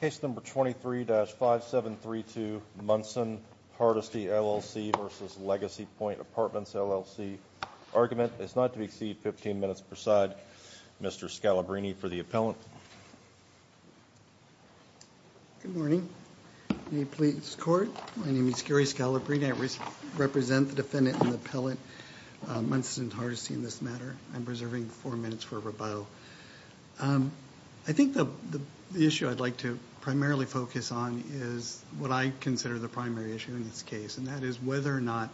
Case number 23-5732, Munson Hardisty LLC versus Legacy Pointe Apartments LLC. Argument is not to exceed 15 minutes per side. Mr. Scalabrine for the appellant. Good morning. New Police Court. My name is Gary Scalabrine. I represent the defendant and the appellant, Munson Hardisty, in this matter. I'm reserving four minutes for rebuttal. I think the issue I'd like to primarily focus on is what I consider the primary issue in this case, and that is whether or not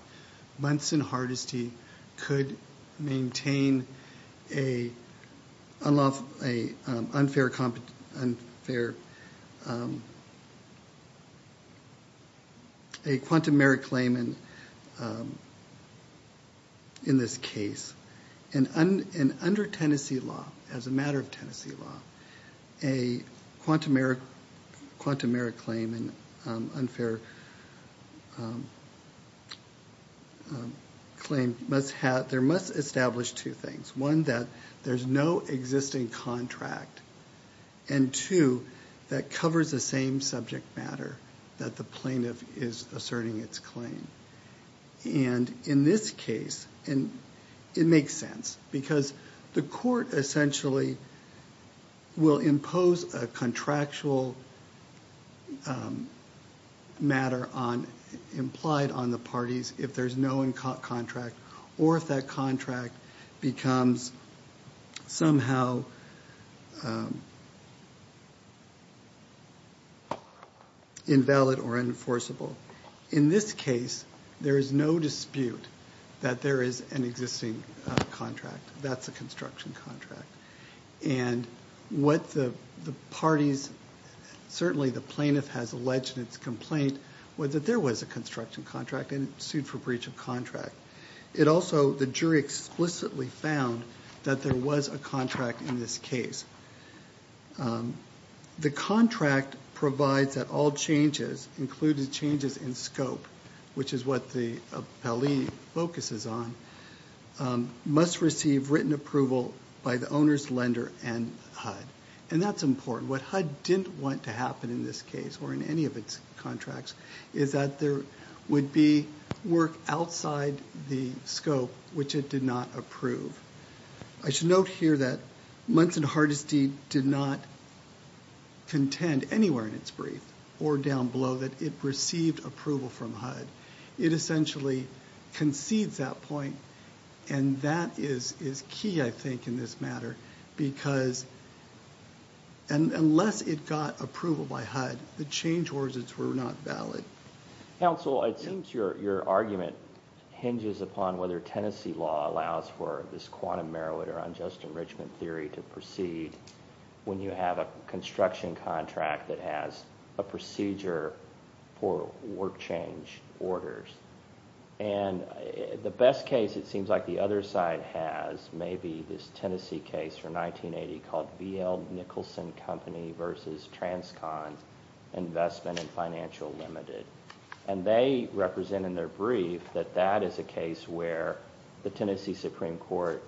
Munson Hardisty could maintain an unfair quantum merit claim in this case. Under Tennessee law, as a matter of Tennessee law, a quantum merit claim, an unfair claim, there must establish two things. One, that there's no existing contract. And two, that covers the same subject matter that the plaintiff is asserting its claim. And in this case, it makes sense because the court essentially will impose a contractual matter implied on the parties if there's no contract or if that contract becomes somehow invalid or enforceable. In this case, there is no dispute that there is an existing contract. That's a construction contract. And what the parties, certainly the plaintiff has alleged in its complaint, was that there was a construction contract and sued for breach of contract. It also, the jury explicitly found that there was a contract in this case. The contract provides that all changes, including changes in scope, which is what the appellee focuses on, must receive written approval by the owner's lender and HUD. And that's important. What HUD didn't want to happen in this case or in any of its contracts is that there would be work outside the scope which it did not approve. I should note here that Munson Hardesty did not contend anywhere in its brief or down below that it received approval from HUD. It essentially concedes that point, and that is key, I think, in this matter because unless it got approval by HUD, the change words were not valid. Counsel, it seems your argument hinges upon whether Tennessee law allows for this quantum merit or unjust enrichment theory to proceed when you have a construction contract that has a procedure for work change orders. And the best case, it seems like the other side has, may be this Tennessee case from 1980 called V. L. Nicholson Company v. Transcon Investment and Financial Limited. And they represent in their brief that that is a case where the Tennessee Supreme Court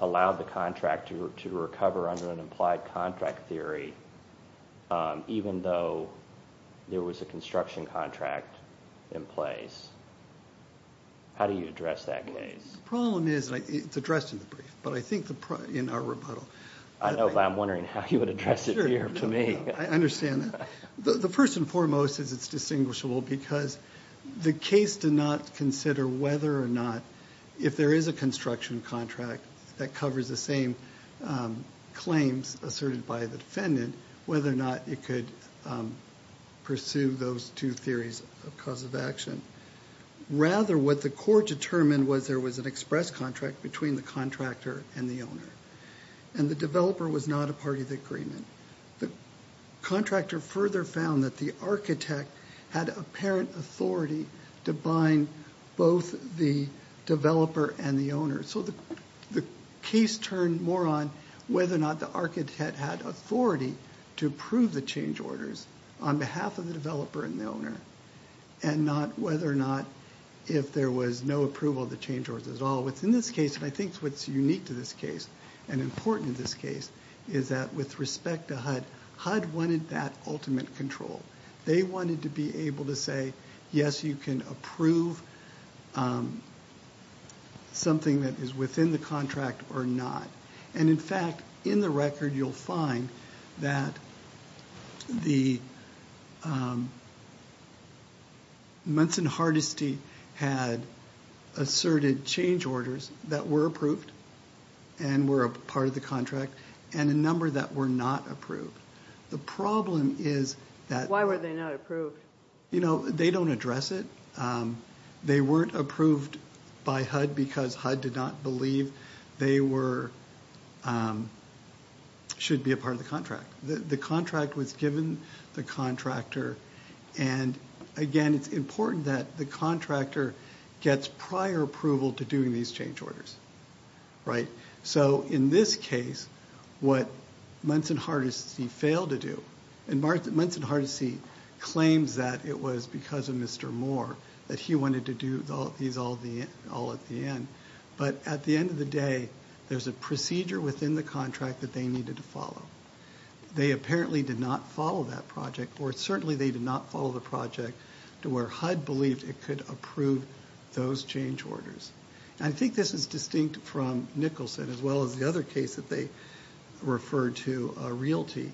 allowed the contract to recover under an implied contract theory even though there was a construction contract in place. How do you address that case? The problem is, and it's addressed in the brief, but I think in our rebuttal. I'm wondering how you would address it here to me. I understand that. The first and foremost is it's distinguishable because the case did not consider whether or not if there is a construction contract that covers the same claims asserted by the defendant, whether or not it could pursue those two theories of cause of action. Rather, what the court determined was there was an express contract between the contractor and the owner, and the developer was not a part of the agreement. The contractor further found that the architect had apparent authority to bind both the developer and the owner. So the case turned more on whether or not the architect had authority to approve the change orders on behalf of the developer and the owner and not whether or not if there was no approval of the change orders at all. Within this case, and I think what's unique to this case and important in this case, is that with respect to HUD, HUD wanted that ultimate control. They wanted to be able to say, yes, you can approve something that is within the contract or not. In fact, in the record you'll find that Munson Hardesty had asserted change orders that were approved and were a part of the contract and a number that were not approved. The problem is that they don't address it. They weren't approved by HUD because HUD did not believe they should be a part of the contract. The contract was given the contractor, and again, it's important that the contractor gets prior approval to doing these change orders. So in this case, what Munson Hardesty failed to do, and Munson Hardesty claims that it was because of Mr. Moore that he wanted to do these all at the end, but at the end of the day, there's a procedure within the contract that they needed to follow. They apparently did not follow that project, or certainly they did not follow the project to where HUD believed it could approve those change orders. I think this is distinct from Nicholson as well as the other case that they referred to, Realty,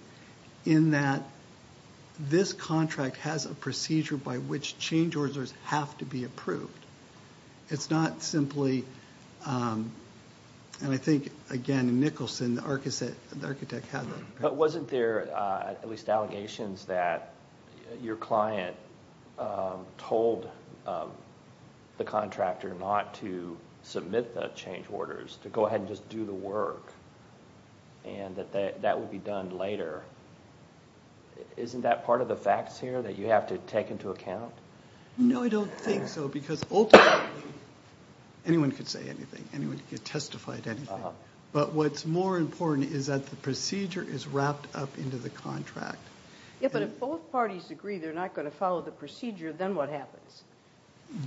in that this contract has a procedure by which change orders have to be approved. It's not simply, and I think, again, Nicholson, the architect, had that. Wasn't there at least allegations that your client told the contractor not to submit the change orders, to go ahead and just do the work, and that that would be done later? Isn't that part of the facts here that you have to take into account? No, I don't think so, because ultimately anyone could say anything, anyone could testify to anything, but what's more important is that the procedure is wrapped up into the contract. Yeah, but if both parties agree they're not going to follow the procedure, then what happens?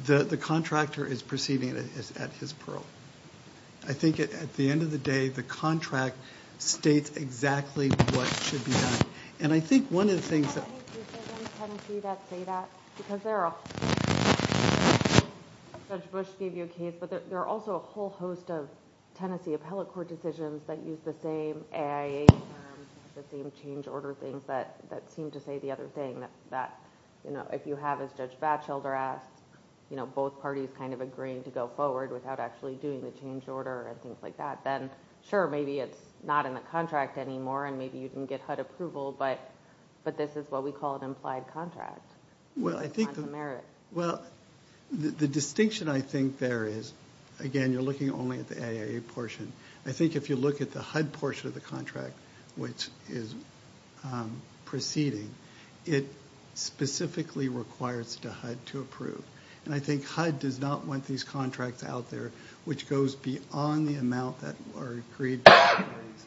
The contractor is proceeding at his pearl. I think at the end of the day, the contract states exactly what should be done, and I think one of the things that— I think there are some in Tennessee that say that, because there are a whole host of them. Judge Bush gave you a case, but there are also a whole host of Tennessee appellate court decisions that use the same AIA terms, the same change order things, that seem to say the other thing, that if you have, as Judge Batchelder asked, both parties kind of agreeing to go forward without actually doing the change order and things like that, then sure, maybe it's not in the contract anymore and maybe you can get HUD approval, but this is what we call an implied contract. Well, I think the distinction I think there is, again, you're looking only at the AIA portion. I think if you look at the HUD portion of the contract, which is proceeding, it specifically requires to HUD to approve, and I think HUD does not want these contracts out there, which goes beyond the amount that are agreed by both parties.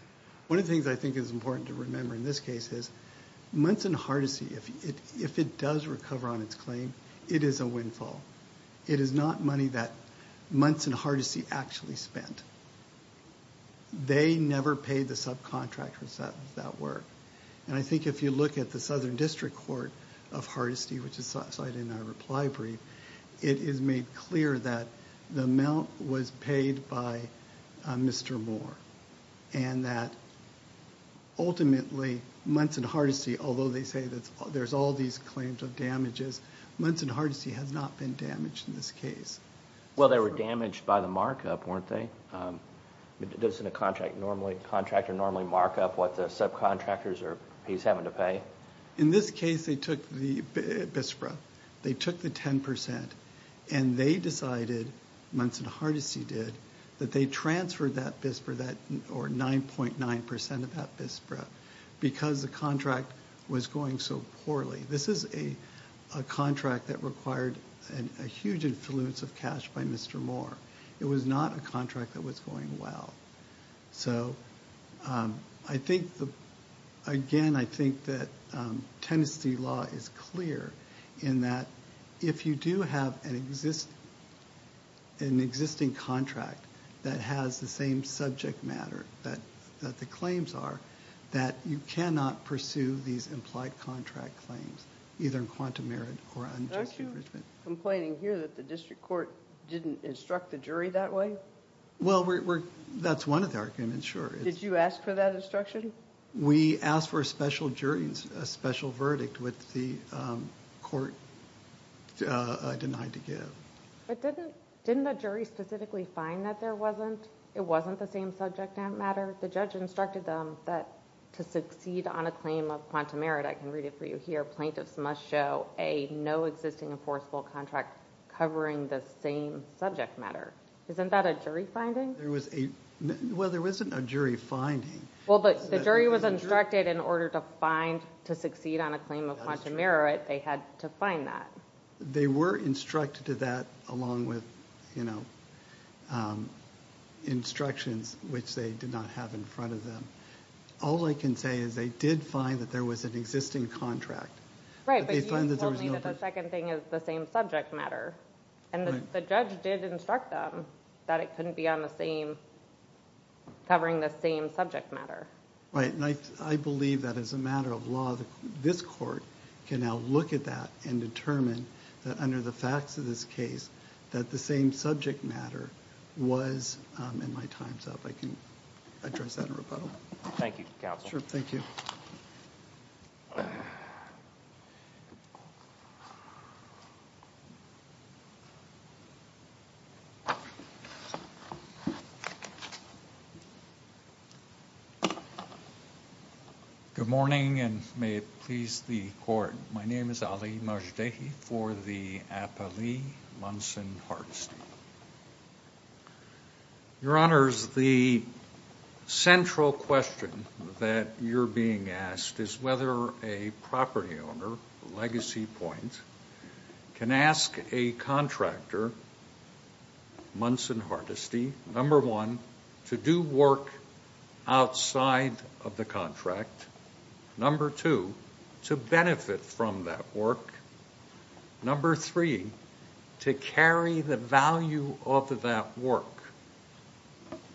One of the things I think is important to remember in this case is months in hardesty, if it does recover on its claim, it is a windfall. It is not money that months in hardesty actually spent. They never paid the subcontractors that work, and I think if you look at the Southern District Court of Hardesty, which is cited in our reply brief, it is made clear that the amount was paid by Mr. Moore and that ultimately months in hardesty, although they say there's all these claims of damages, months in hardesty has not been damaged in this case. Well, they were damaged by the markup, weren't they? Doesn't a contractor normally markup what the subcontractors are having to pay? In this case, they took the BISPRA. They took the 10%, and they decided, months in hardesty did, that they transferred that BISPRA, or 9.9% of that BISPRA, because the contract was going so poorly. This is a contract that required a huge influence of cash by Mr. Moore. It was not a contract that was going well. So again, I think that Tennessee law is clear in that if you do have an existing contract that has the same subject matter that the claims are, that you cannot pursue these implied contract claims, either in quantum merit or unjust infringement. Aren't you complaining here that the district court didn't instruct the jury that way? Well, that's one of the arguments, sure. Did you ask for that instruction? We asked for a special jury, a special verdict, which the court denied to give. Didn't the jury specifically find that it wasn't the same subject matter? The judge instructed them that to succeed on a claim of quantum merit, I can read it for you here, plaintiffs must show a no existing enforceable contract covering the same subject matter. Isn't that a jury finding? Well, there wasn't a jury finding. Well, but the jury was instructed in order to find, to succeed on a claim of quantum merit, they had to find that. They were instructed to that along with instructions which they did not have in front of them. All I can say is they did find that there was an existing contract. Right, but you told me that the second thing is the same subject matter. And the judge did instruct them that it couldn't be covering the same subject matter. Right, and I believe that as a matter of law, this court can now look at that and determine that under the facts of this case that the same subject matter was in my time's up. I can address that in rebuttal. Thank you, counsel. Sure, thank you. Good morning, and may it please the court. My name is Ali Majdahi for the Appali Munson Hardesty. Your Honors, the central question that you're being asked is whether a property owner, the legacy point, can ask a contractor, Munson Hardesty, number one, to do work outside of the contract, number two, to benefit from that work, number three, to carry the value of that work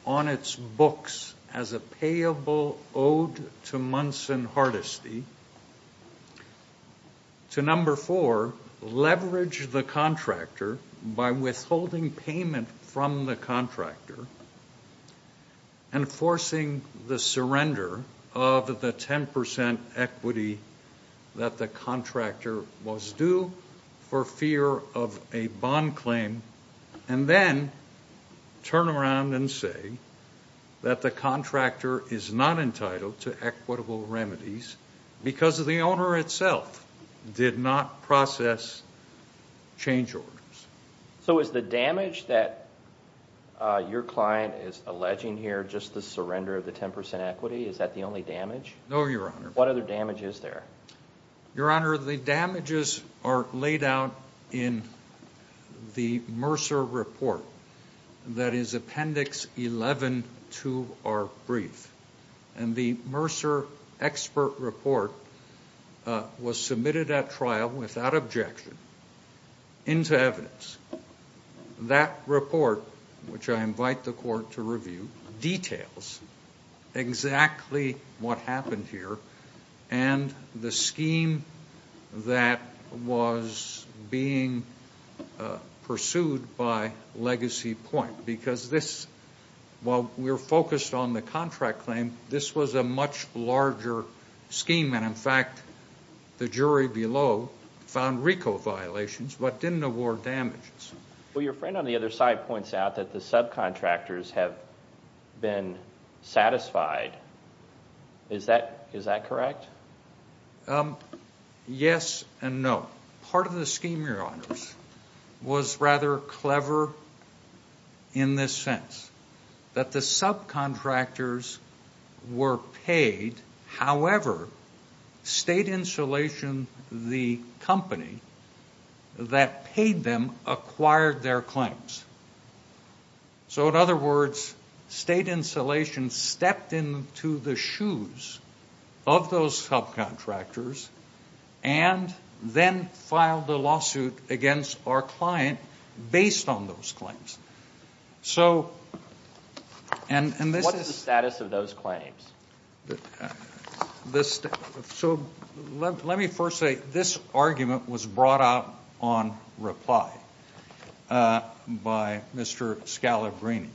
on its books as a payable owed to Munson Hardesty, to number four, leverage the contractor by withholding payment from the contractor and forcing the surrender of the 10% equity that the contractor was due for fear of a bond claim and then turn around and say that the contractor is not entitled to equitable remedies because the owner itself did not process change orders. So is the damage that your client is alleging here just the surrender of the 10% equity, is that the only damage? No, Your Honor. What other damage is there? Your Honor, the damages are laid out in the Mercer Report, that is Appendix 11 to our brief, and the Mercer Expert Report was submitted at trial without objection into evidence. That report, which I invite the court to review, details exactly what happened here and the scheme that was being pursued by Legacy Point because this, while we're focused on the contract claim, this was a much larger scheme, and in fact the jury below found RICO violations but didn't award damages. Well, your friend on the other side points out that the subcontractors have been satisfied. Is that correct? Yes and no. Part of the scheme, Your Honors, was rather clever in the sense that the subcontractors were paid. However, State Insulation, the company that paid them, acquired their claims. So in other words, State Insulation stepped into the shoes of those subcontractors and then filed a lawsuit against our client based on those claims. What is the status of those claims? So let me first say this argument was brought out on reply by Mr. Scalabrini,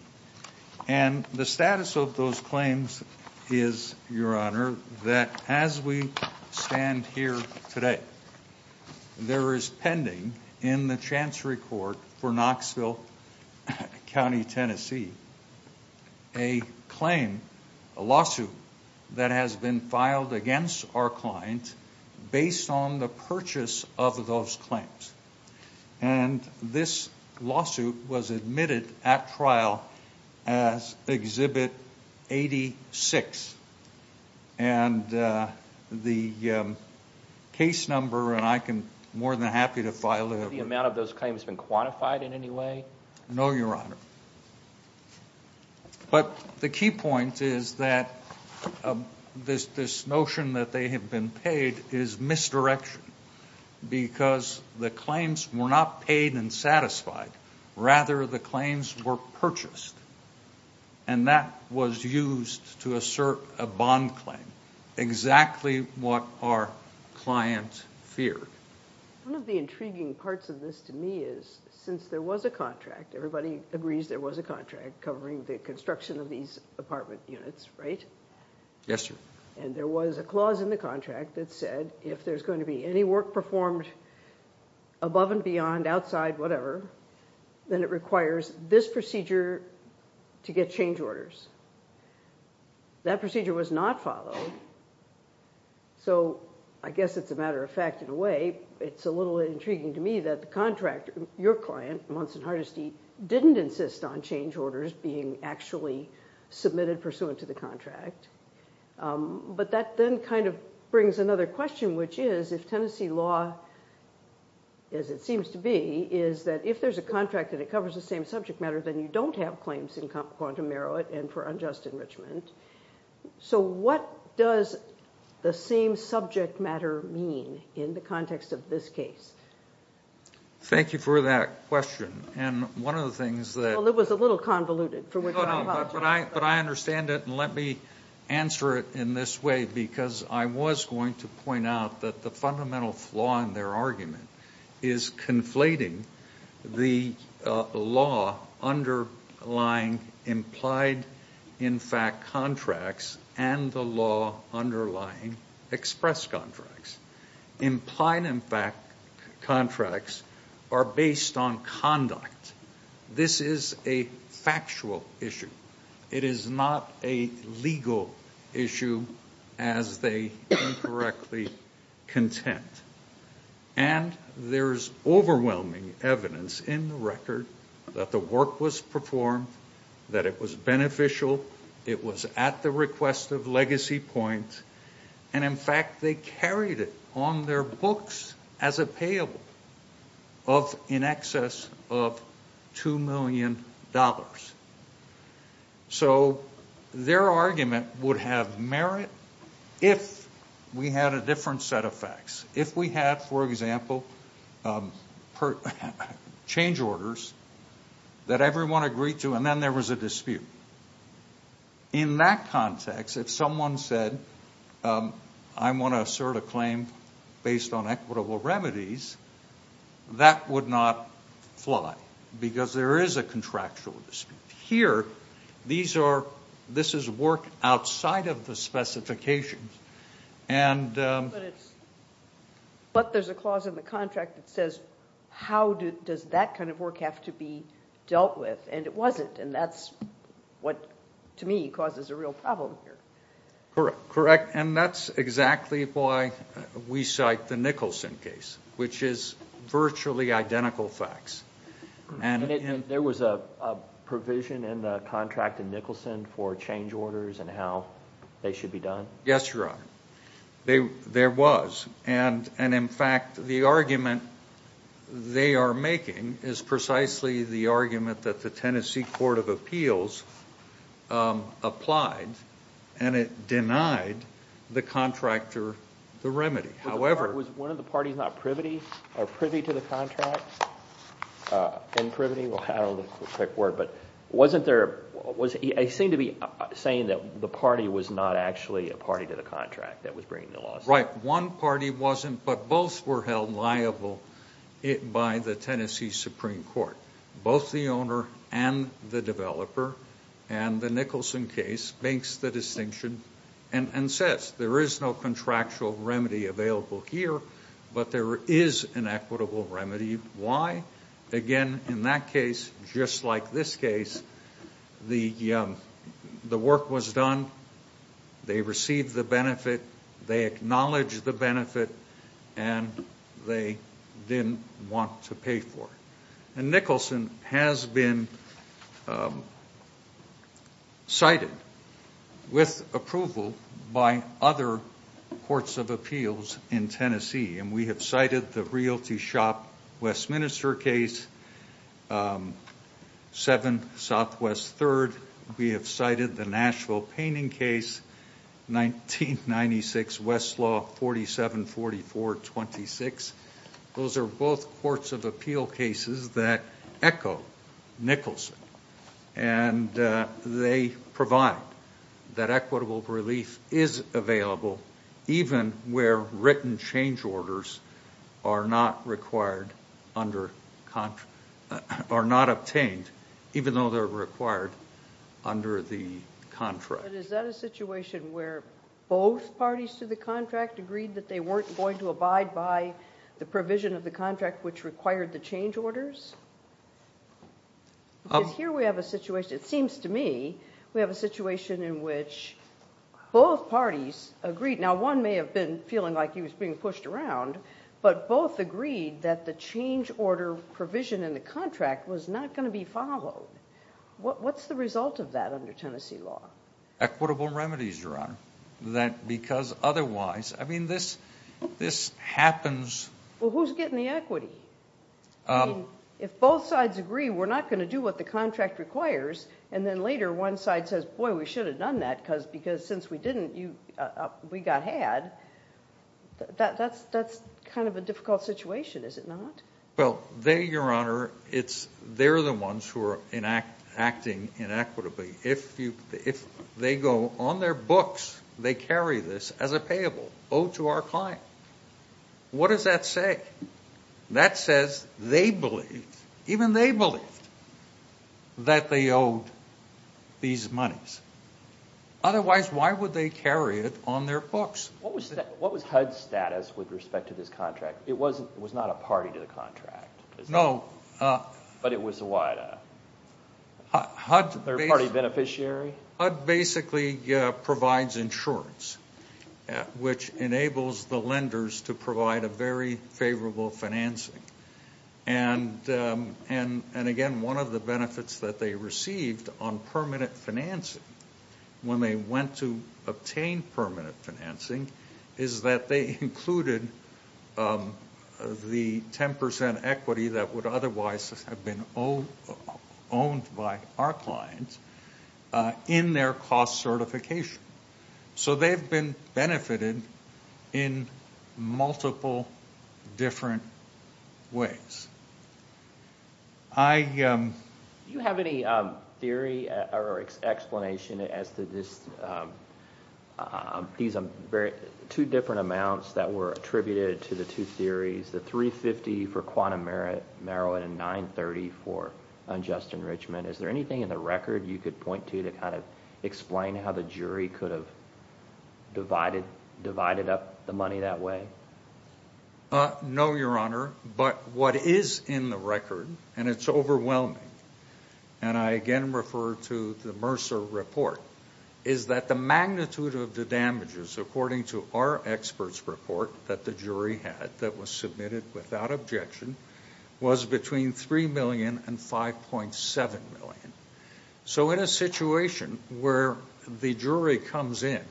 and the status of those claims is, Your Honor, that as we stand here today, there is pending in the Chancery Court for Knoxville County, Tennessee, a claim, a lawsuit that has been filed against our client based on the purchase of those claims. And this lawsuit was admitted at trial as Exhibit 86. And the case number, and I am more than happy to file it. Has the amount of those claims been quantified in any way? No, Your Honor. But the key point is that this notion that they have been paid is misdirection because the claims were not paid and satisfied. Rather, the claims were purchased, and that was used to assert a bond claim, exactly what our client feared. One of the intriguing parts of this to me is, since there was a contract, everybody agrees there was a contract covering the construction of these apartment units, right? Yes, sir. And there was a clause in the contract that said if there's going to be any work performed above and beyond, outside, whatever, then it requires this procedure to get change orders. That procedure was not followed. So I guess it's a matter of fact in a way. It's a little intriguing to me that the contractor, your client, Munson Hardesty, didn't insist on change orders being actually submitted pursuant to the contract. But that then kind of brings another question, which is if Tennessee law, as it seems to be, is that if there's a contract that it covers the same subject matter, then you don't have claims in quantum merit and for unjust enrichment. So what does the same subject matter mean in the context of this case? Thank you for that question. And one of the things that- Well, it was a little convoluted, for which I apologize. But I understand it, and let me answer it in this way, because I was going to point out that the fundamental flaw in their argument is conflating the law underlying implied in fact contracts and the law underlying express contracts. Implied in fact contracts are based on conduct. This is a factual issue. It is not a legal issue as they incorrectly contend. And there's overwhelming evidence in the record that the work was performed, that it was beneficial, it was at the request of legacy point, and in fact they carried it on their books as a payable of in excess of $2 million. So their argument would have merit if we had a different set of facts. If we had, for example, change orders that everyone agreed to and then there was a dispute. In that context, if someone said, I want to assert a claim based on equitable remedies, that would not fly because there is a contractual dispute. Here, this is work outside of the specifications. But there's a clause in the contract that says, how does that kind of work have to be dealt with? And it wasn't, and that's what, to me, causes a real problem here. Correct. And that's exactly why we cite the Nicholson case, which is virtually identical facts. There was a provision in the contract in Nicholson for change orders and how they should be done? Yes, Your Honor. There was. And in fact, the argument they are making is precisely the argument that the Tennessee Court of Appeals applied and it denied the contractor the remedy. Was one of the parties not privy to the contract? I don't know the correct word, but wasn't there, it seemed to be saying that the party was not actually a party to the contract that was bringing the lawsuit. Right. One party wasn't, but both were held liable by the Tennessee Supreme Court. Both the owner and the developer, and the Nicholson case, makes the distinction and says there is no contractual remedy available here, but there is an equitable remedy. Why? Again, in that case, just like this case, the work was done, they received the benefit, they acknowledged the benefit, and they didn't want to pay for it. And Nicholson has been cited with approval by other courts of appeals in Tennessee, and we have cited the Realty Shop Westminster case, 7 Southwest 3rd. We have cited the Nashville Painting case, 1996, Westlaw 474426. Those are both courts of appeal cases that echo Nicholson, and they provide that equitable relief is available, even where written change orders are not obtained, even though they're required under the contract. But is that a situation where both parties to the contract agreed that they weren't going to abide by the provision of the contract which required the change orders? Because here we have a situation, it seems to me, we have a situation in which both parties agreed. Now, one may have been feeling like he was being pushed around, but both agreed that the change order provision in the contract was not going to be followed. What's the result of that under Tennessee law? Equitable remedies, Your Honor. Because otherwise, I mean, this happens. Well, who's getting the equity? If both sides agree we're not going to do what the contract requires, and then later one side says, boy, we should have done that because since we didn't, we got had, that's kind of a difficult situation, is it not? Well, they, Your Honor, they're the ones who are acting inequitably. If they go on their books, they carry this as a payable, owed to our client. What does that say? That says they believed, even they believed, that they owed these monies. Otherwise, why would they carry it on their books? What was HUD's status with respect to this contract? It was not a party to the contract. No. But it was a third-party beneficiary? HUD basically provides insurance, which enables the lenders to provide a very favorable financing. And, again, one of the benefits that they received on permanent financing when they went to obtain permanent financing is that they included the 10% equity that would otherwise have been owned by our clients in their cost certification. So they've been benefited in multiple different ways. Do you have any theory or explanation as to this? These are two different amounts that were attributed to the two theories, the $350,000 for quantum merit, marijuana, and $930,000 for unjust enrichment. Is there anything in the record you could point to to kind of explain how the jury could have divided up the money that way? No, Your Honor. But what is in the record, and it's overwhelming, and I again refer to the Mercer report, is that the magnitude of the damages, according to our experts' report that the jury had that was submitted without objection, was between $3 million and $5.7 million. So in a situation where the jury comes in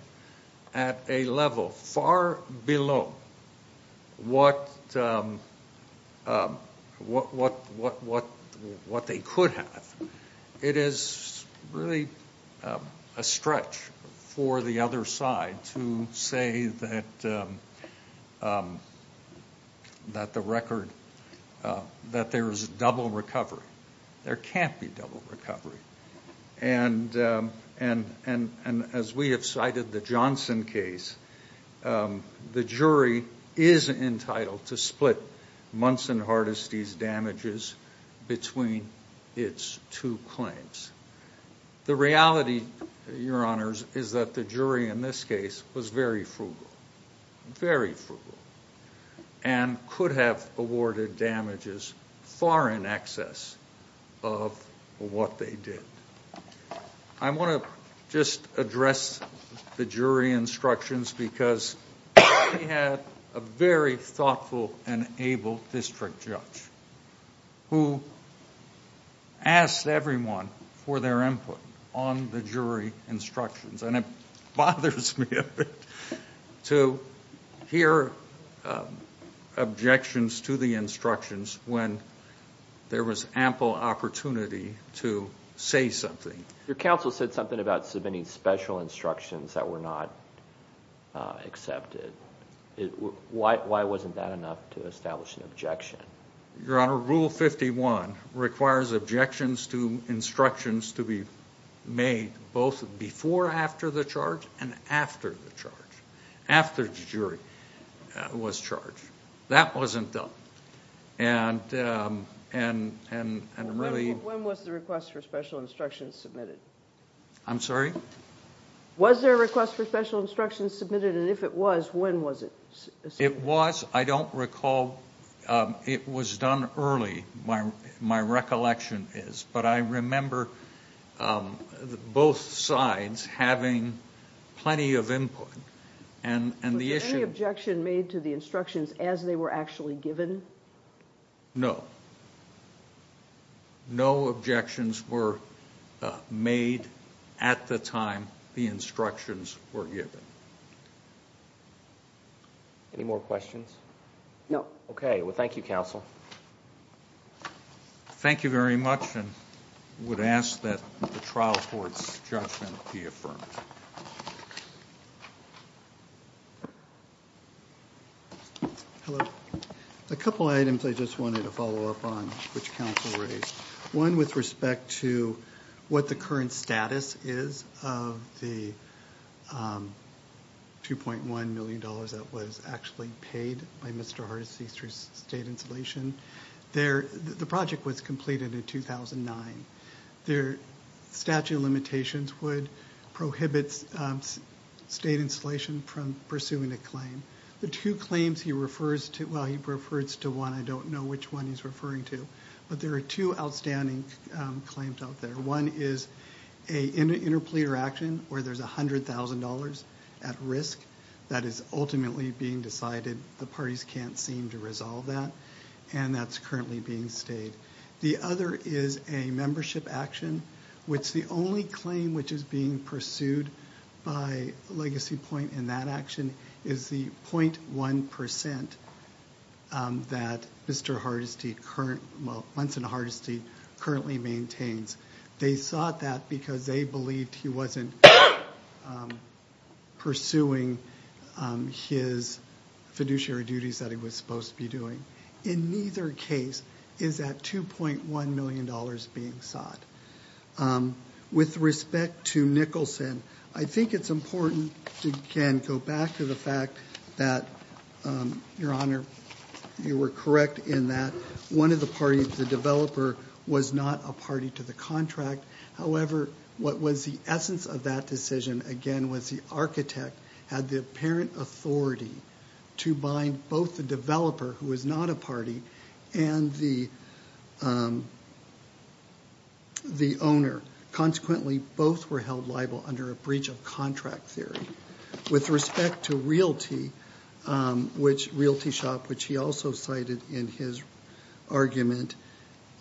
at a level far below what they could have, it is really a stretch for the other side to say that there is double recovery. There can't be double recovery. And as we have cited the Johnson case, the jury is entitled to split Munson Hardesty's damages between its two claims. The reality, Your Honors, is that the jury in this case was very frugal, very frugal, and could have awarded damages far in excess of what they did. I want to just address the jury instructions because we had a very thoughtful and able district judge who asked everyone for their input on the jury instructions, and it bothers me a bit to hear objections to the instructions when there was ample opportunity to say something. Your counsel said something about submitting special instructions that were not accepted. Why wasn't that enough to establish an objection? Your Honor, Rule 51 requires objections to instructions to be made both before after the charge and after the charge, after the jury was charged. That wasn't done. When was the request for special instructions submitted? I'm sorry? Was there a request for special instructions submitted? And if it was, when was it submitted? It was. I don't recall. It was done early, my recollection is. But I remember both sides having plenty of input. Was there any objection made to the instructions as they were actually given? No. No objections were made at the time the instructions were given. Any more questions? No. Okay. Well, thank you, counsel. Thank you very much. And I would ask that the trial court's judgment be affirmed. Hello. A couple items I just wanted to follow up on, which counsel raised. One with respect to what the current status is of the $2.1 million that was actually paid by Mr. Hardesty through state installation. The project was completed in 2009. Their statute of limitations would prohibit state installation from pursuing a claim. The two claims he refers to, well, he refers to one. I don't know which one he's referring to. But there are two outstanding claims out there. One is an interpleader action where there's $100,000 at risk that is ultimately being decided. The parties can't seem to resolve that, and that's currently being stayed. The other is a membership action, which the only claim which is being pursued by Legacy Point in that action is the 0.1% that Mr. Hardesty currently maintains. They sought that because they believed he wasn't pursuing his fiduciary duties that he was supposed to be doing. In neither case is that $2.1 million being sought. With respect to Nicholson, I think it's important to, again, go back to the fact that, Your Honor, you were correct in that one of the parties, the developer, was not a party to the contract. However, what was the essence of that decision, again, was the architect had the apparent authority to bind both the developer, who was not a party, and the owner. Consequently, both were held liable under a breach of contract theory. With respect to Realty Shop, which he also cited in his argument,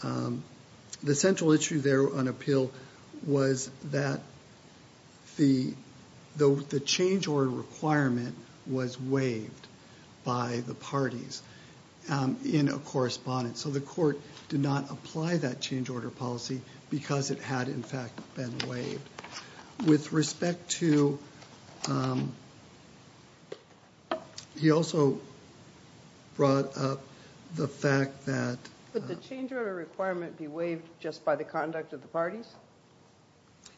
the central issue there on appeal was that the change order requirement was waived by the parties in a correspondence. So the court did not apply that change order policy because it had, in fact, been waived. With respect to, he also brought up the fact that... But the change order requirement be waived just by the conduct of the parties?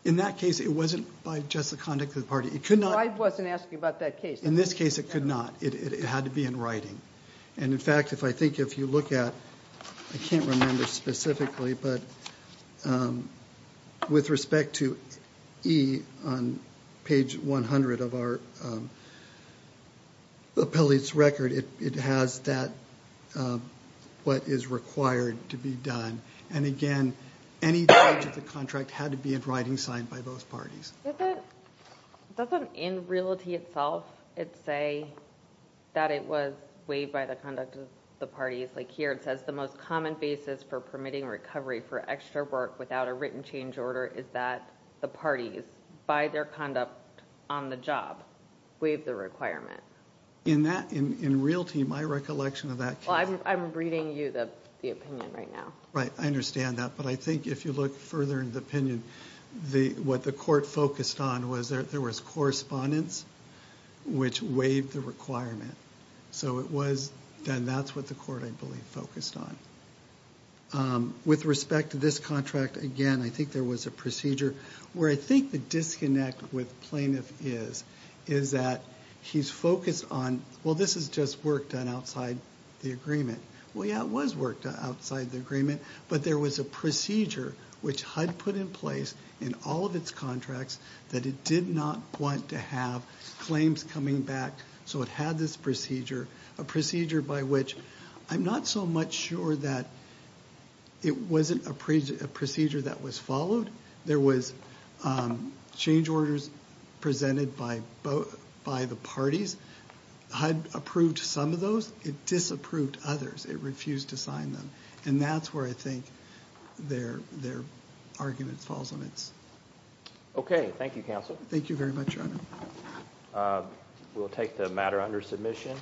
In that case, it wasn't by just the conduct of the party. I wasn't asking about that case. In this case, it could not. It had to be in writing. In fact, I think if you look at, I can't remember specifically, but with respect to E on page 100 of our appellate's record, it has that what is required to be done. Again, any change of the contract had to be in writing signed by both parties. Doesn't in Realty itself say that it was waived by the conduct of the parties? Like here it says the most common basis for permitting recovery for extra work without a written change order is that the parties, by their conduct on the job, waived the requirement. In Realty, my recollection of that... I'm reading you the opinion right now. Right, I understand that. But I think if you look further in the opinion, what the court focused on was there was correspondence which waived the requirement. So that's what the court, I believe, focused on. With respect to this contract, again, I think there was a procedure. Where I think the disconnect with plaintiff is that he's focused on, well, this is just work done outside the agreement. Well, yeah, it was work done outside the agreement. But there was a procedure which HUD put in place in all of its contracts that it did not want to have claims coming back. So it had this procedure, a procedure by which I'm not so much sure that it wasn't a procedure that was followed. There was change orders presented by the parties. HUD approved some of those. It disapproved others. It refused to sign them. And that's where I think their argument falls on its... Okay, thank you, Counsel. Thank you very much, Your Honor. We'll take the matter under submission.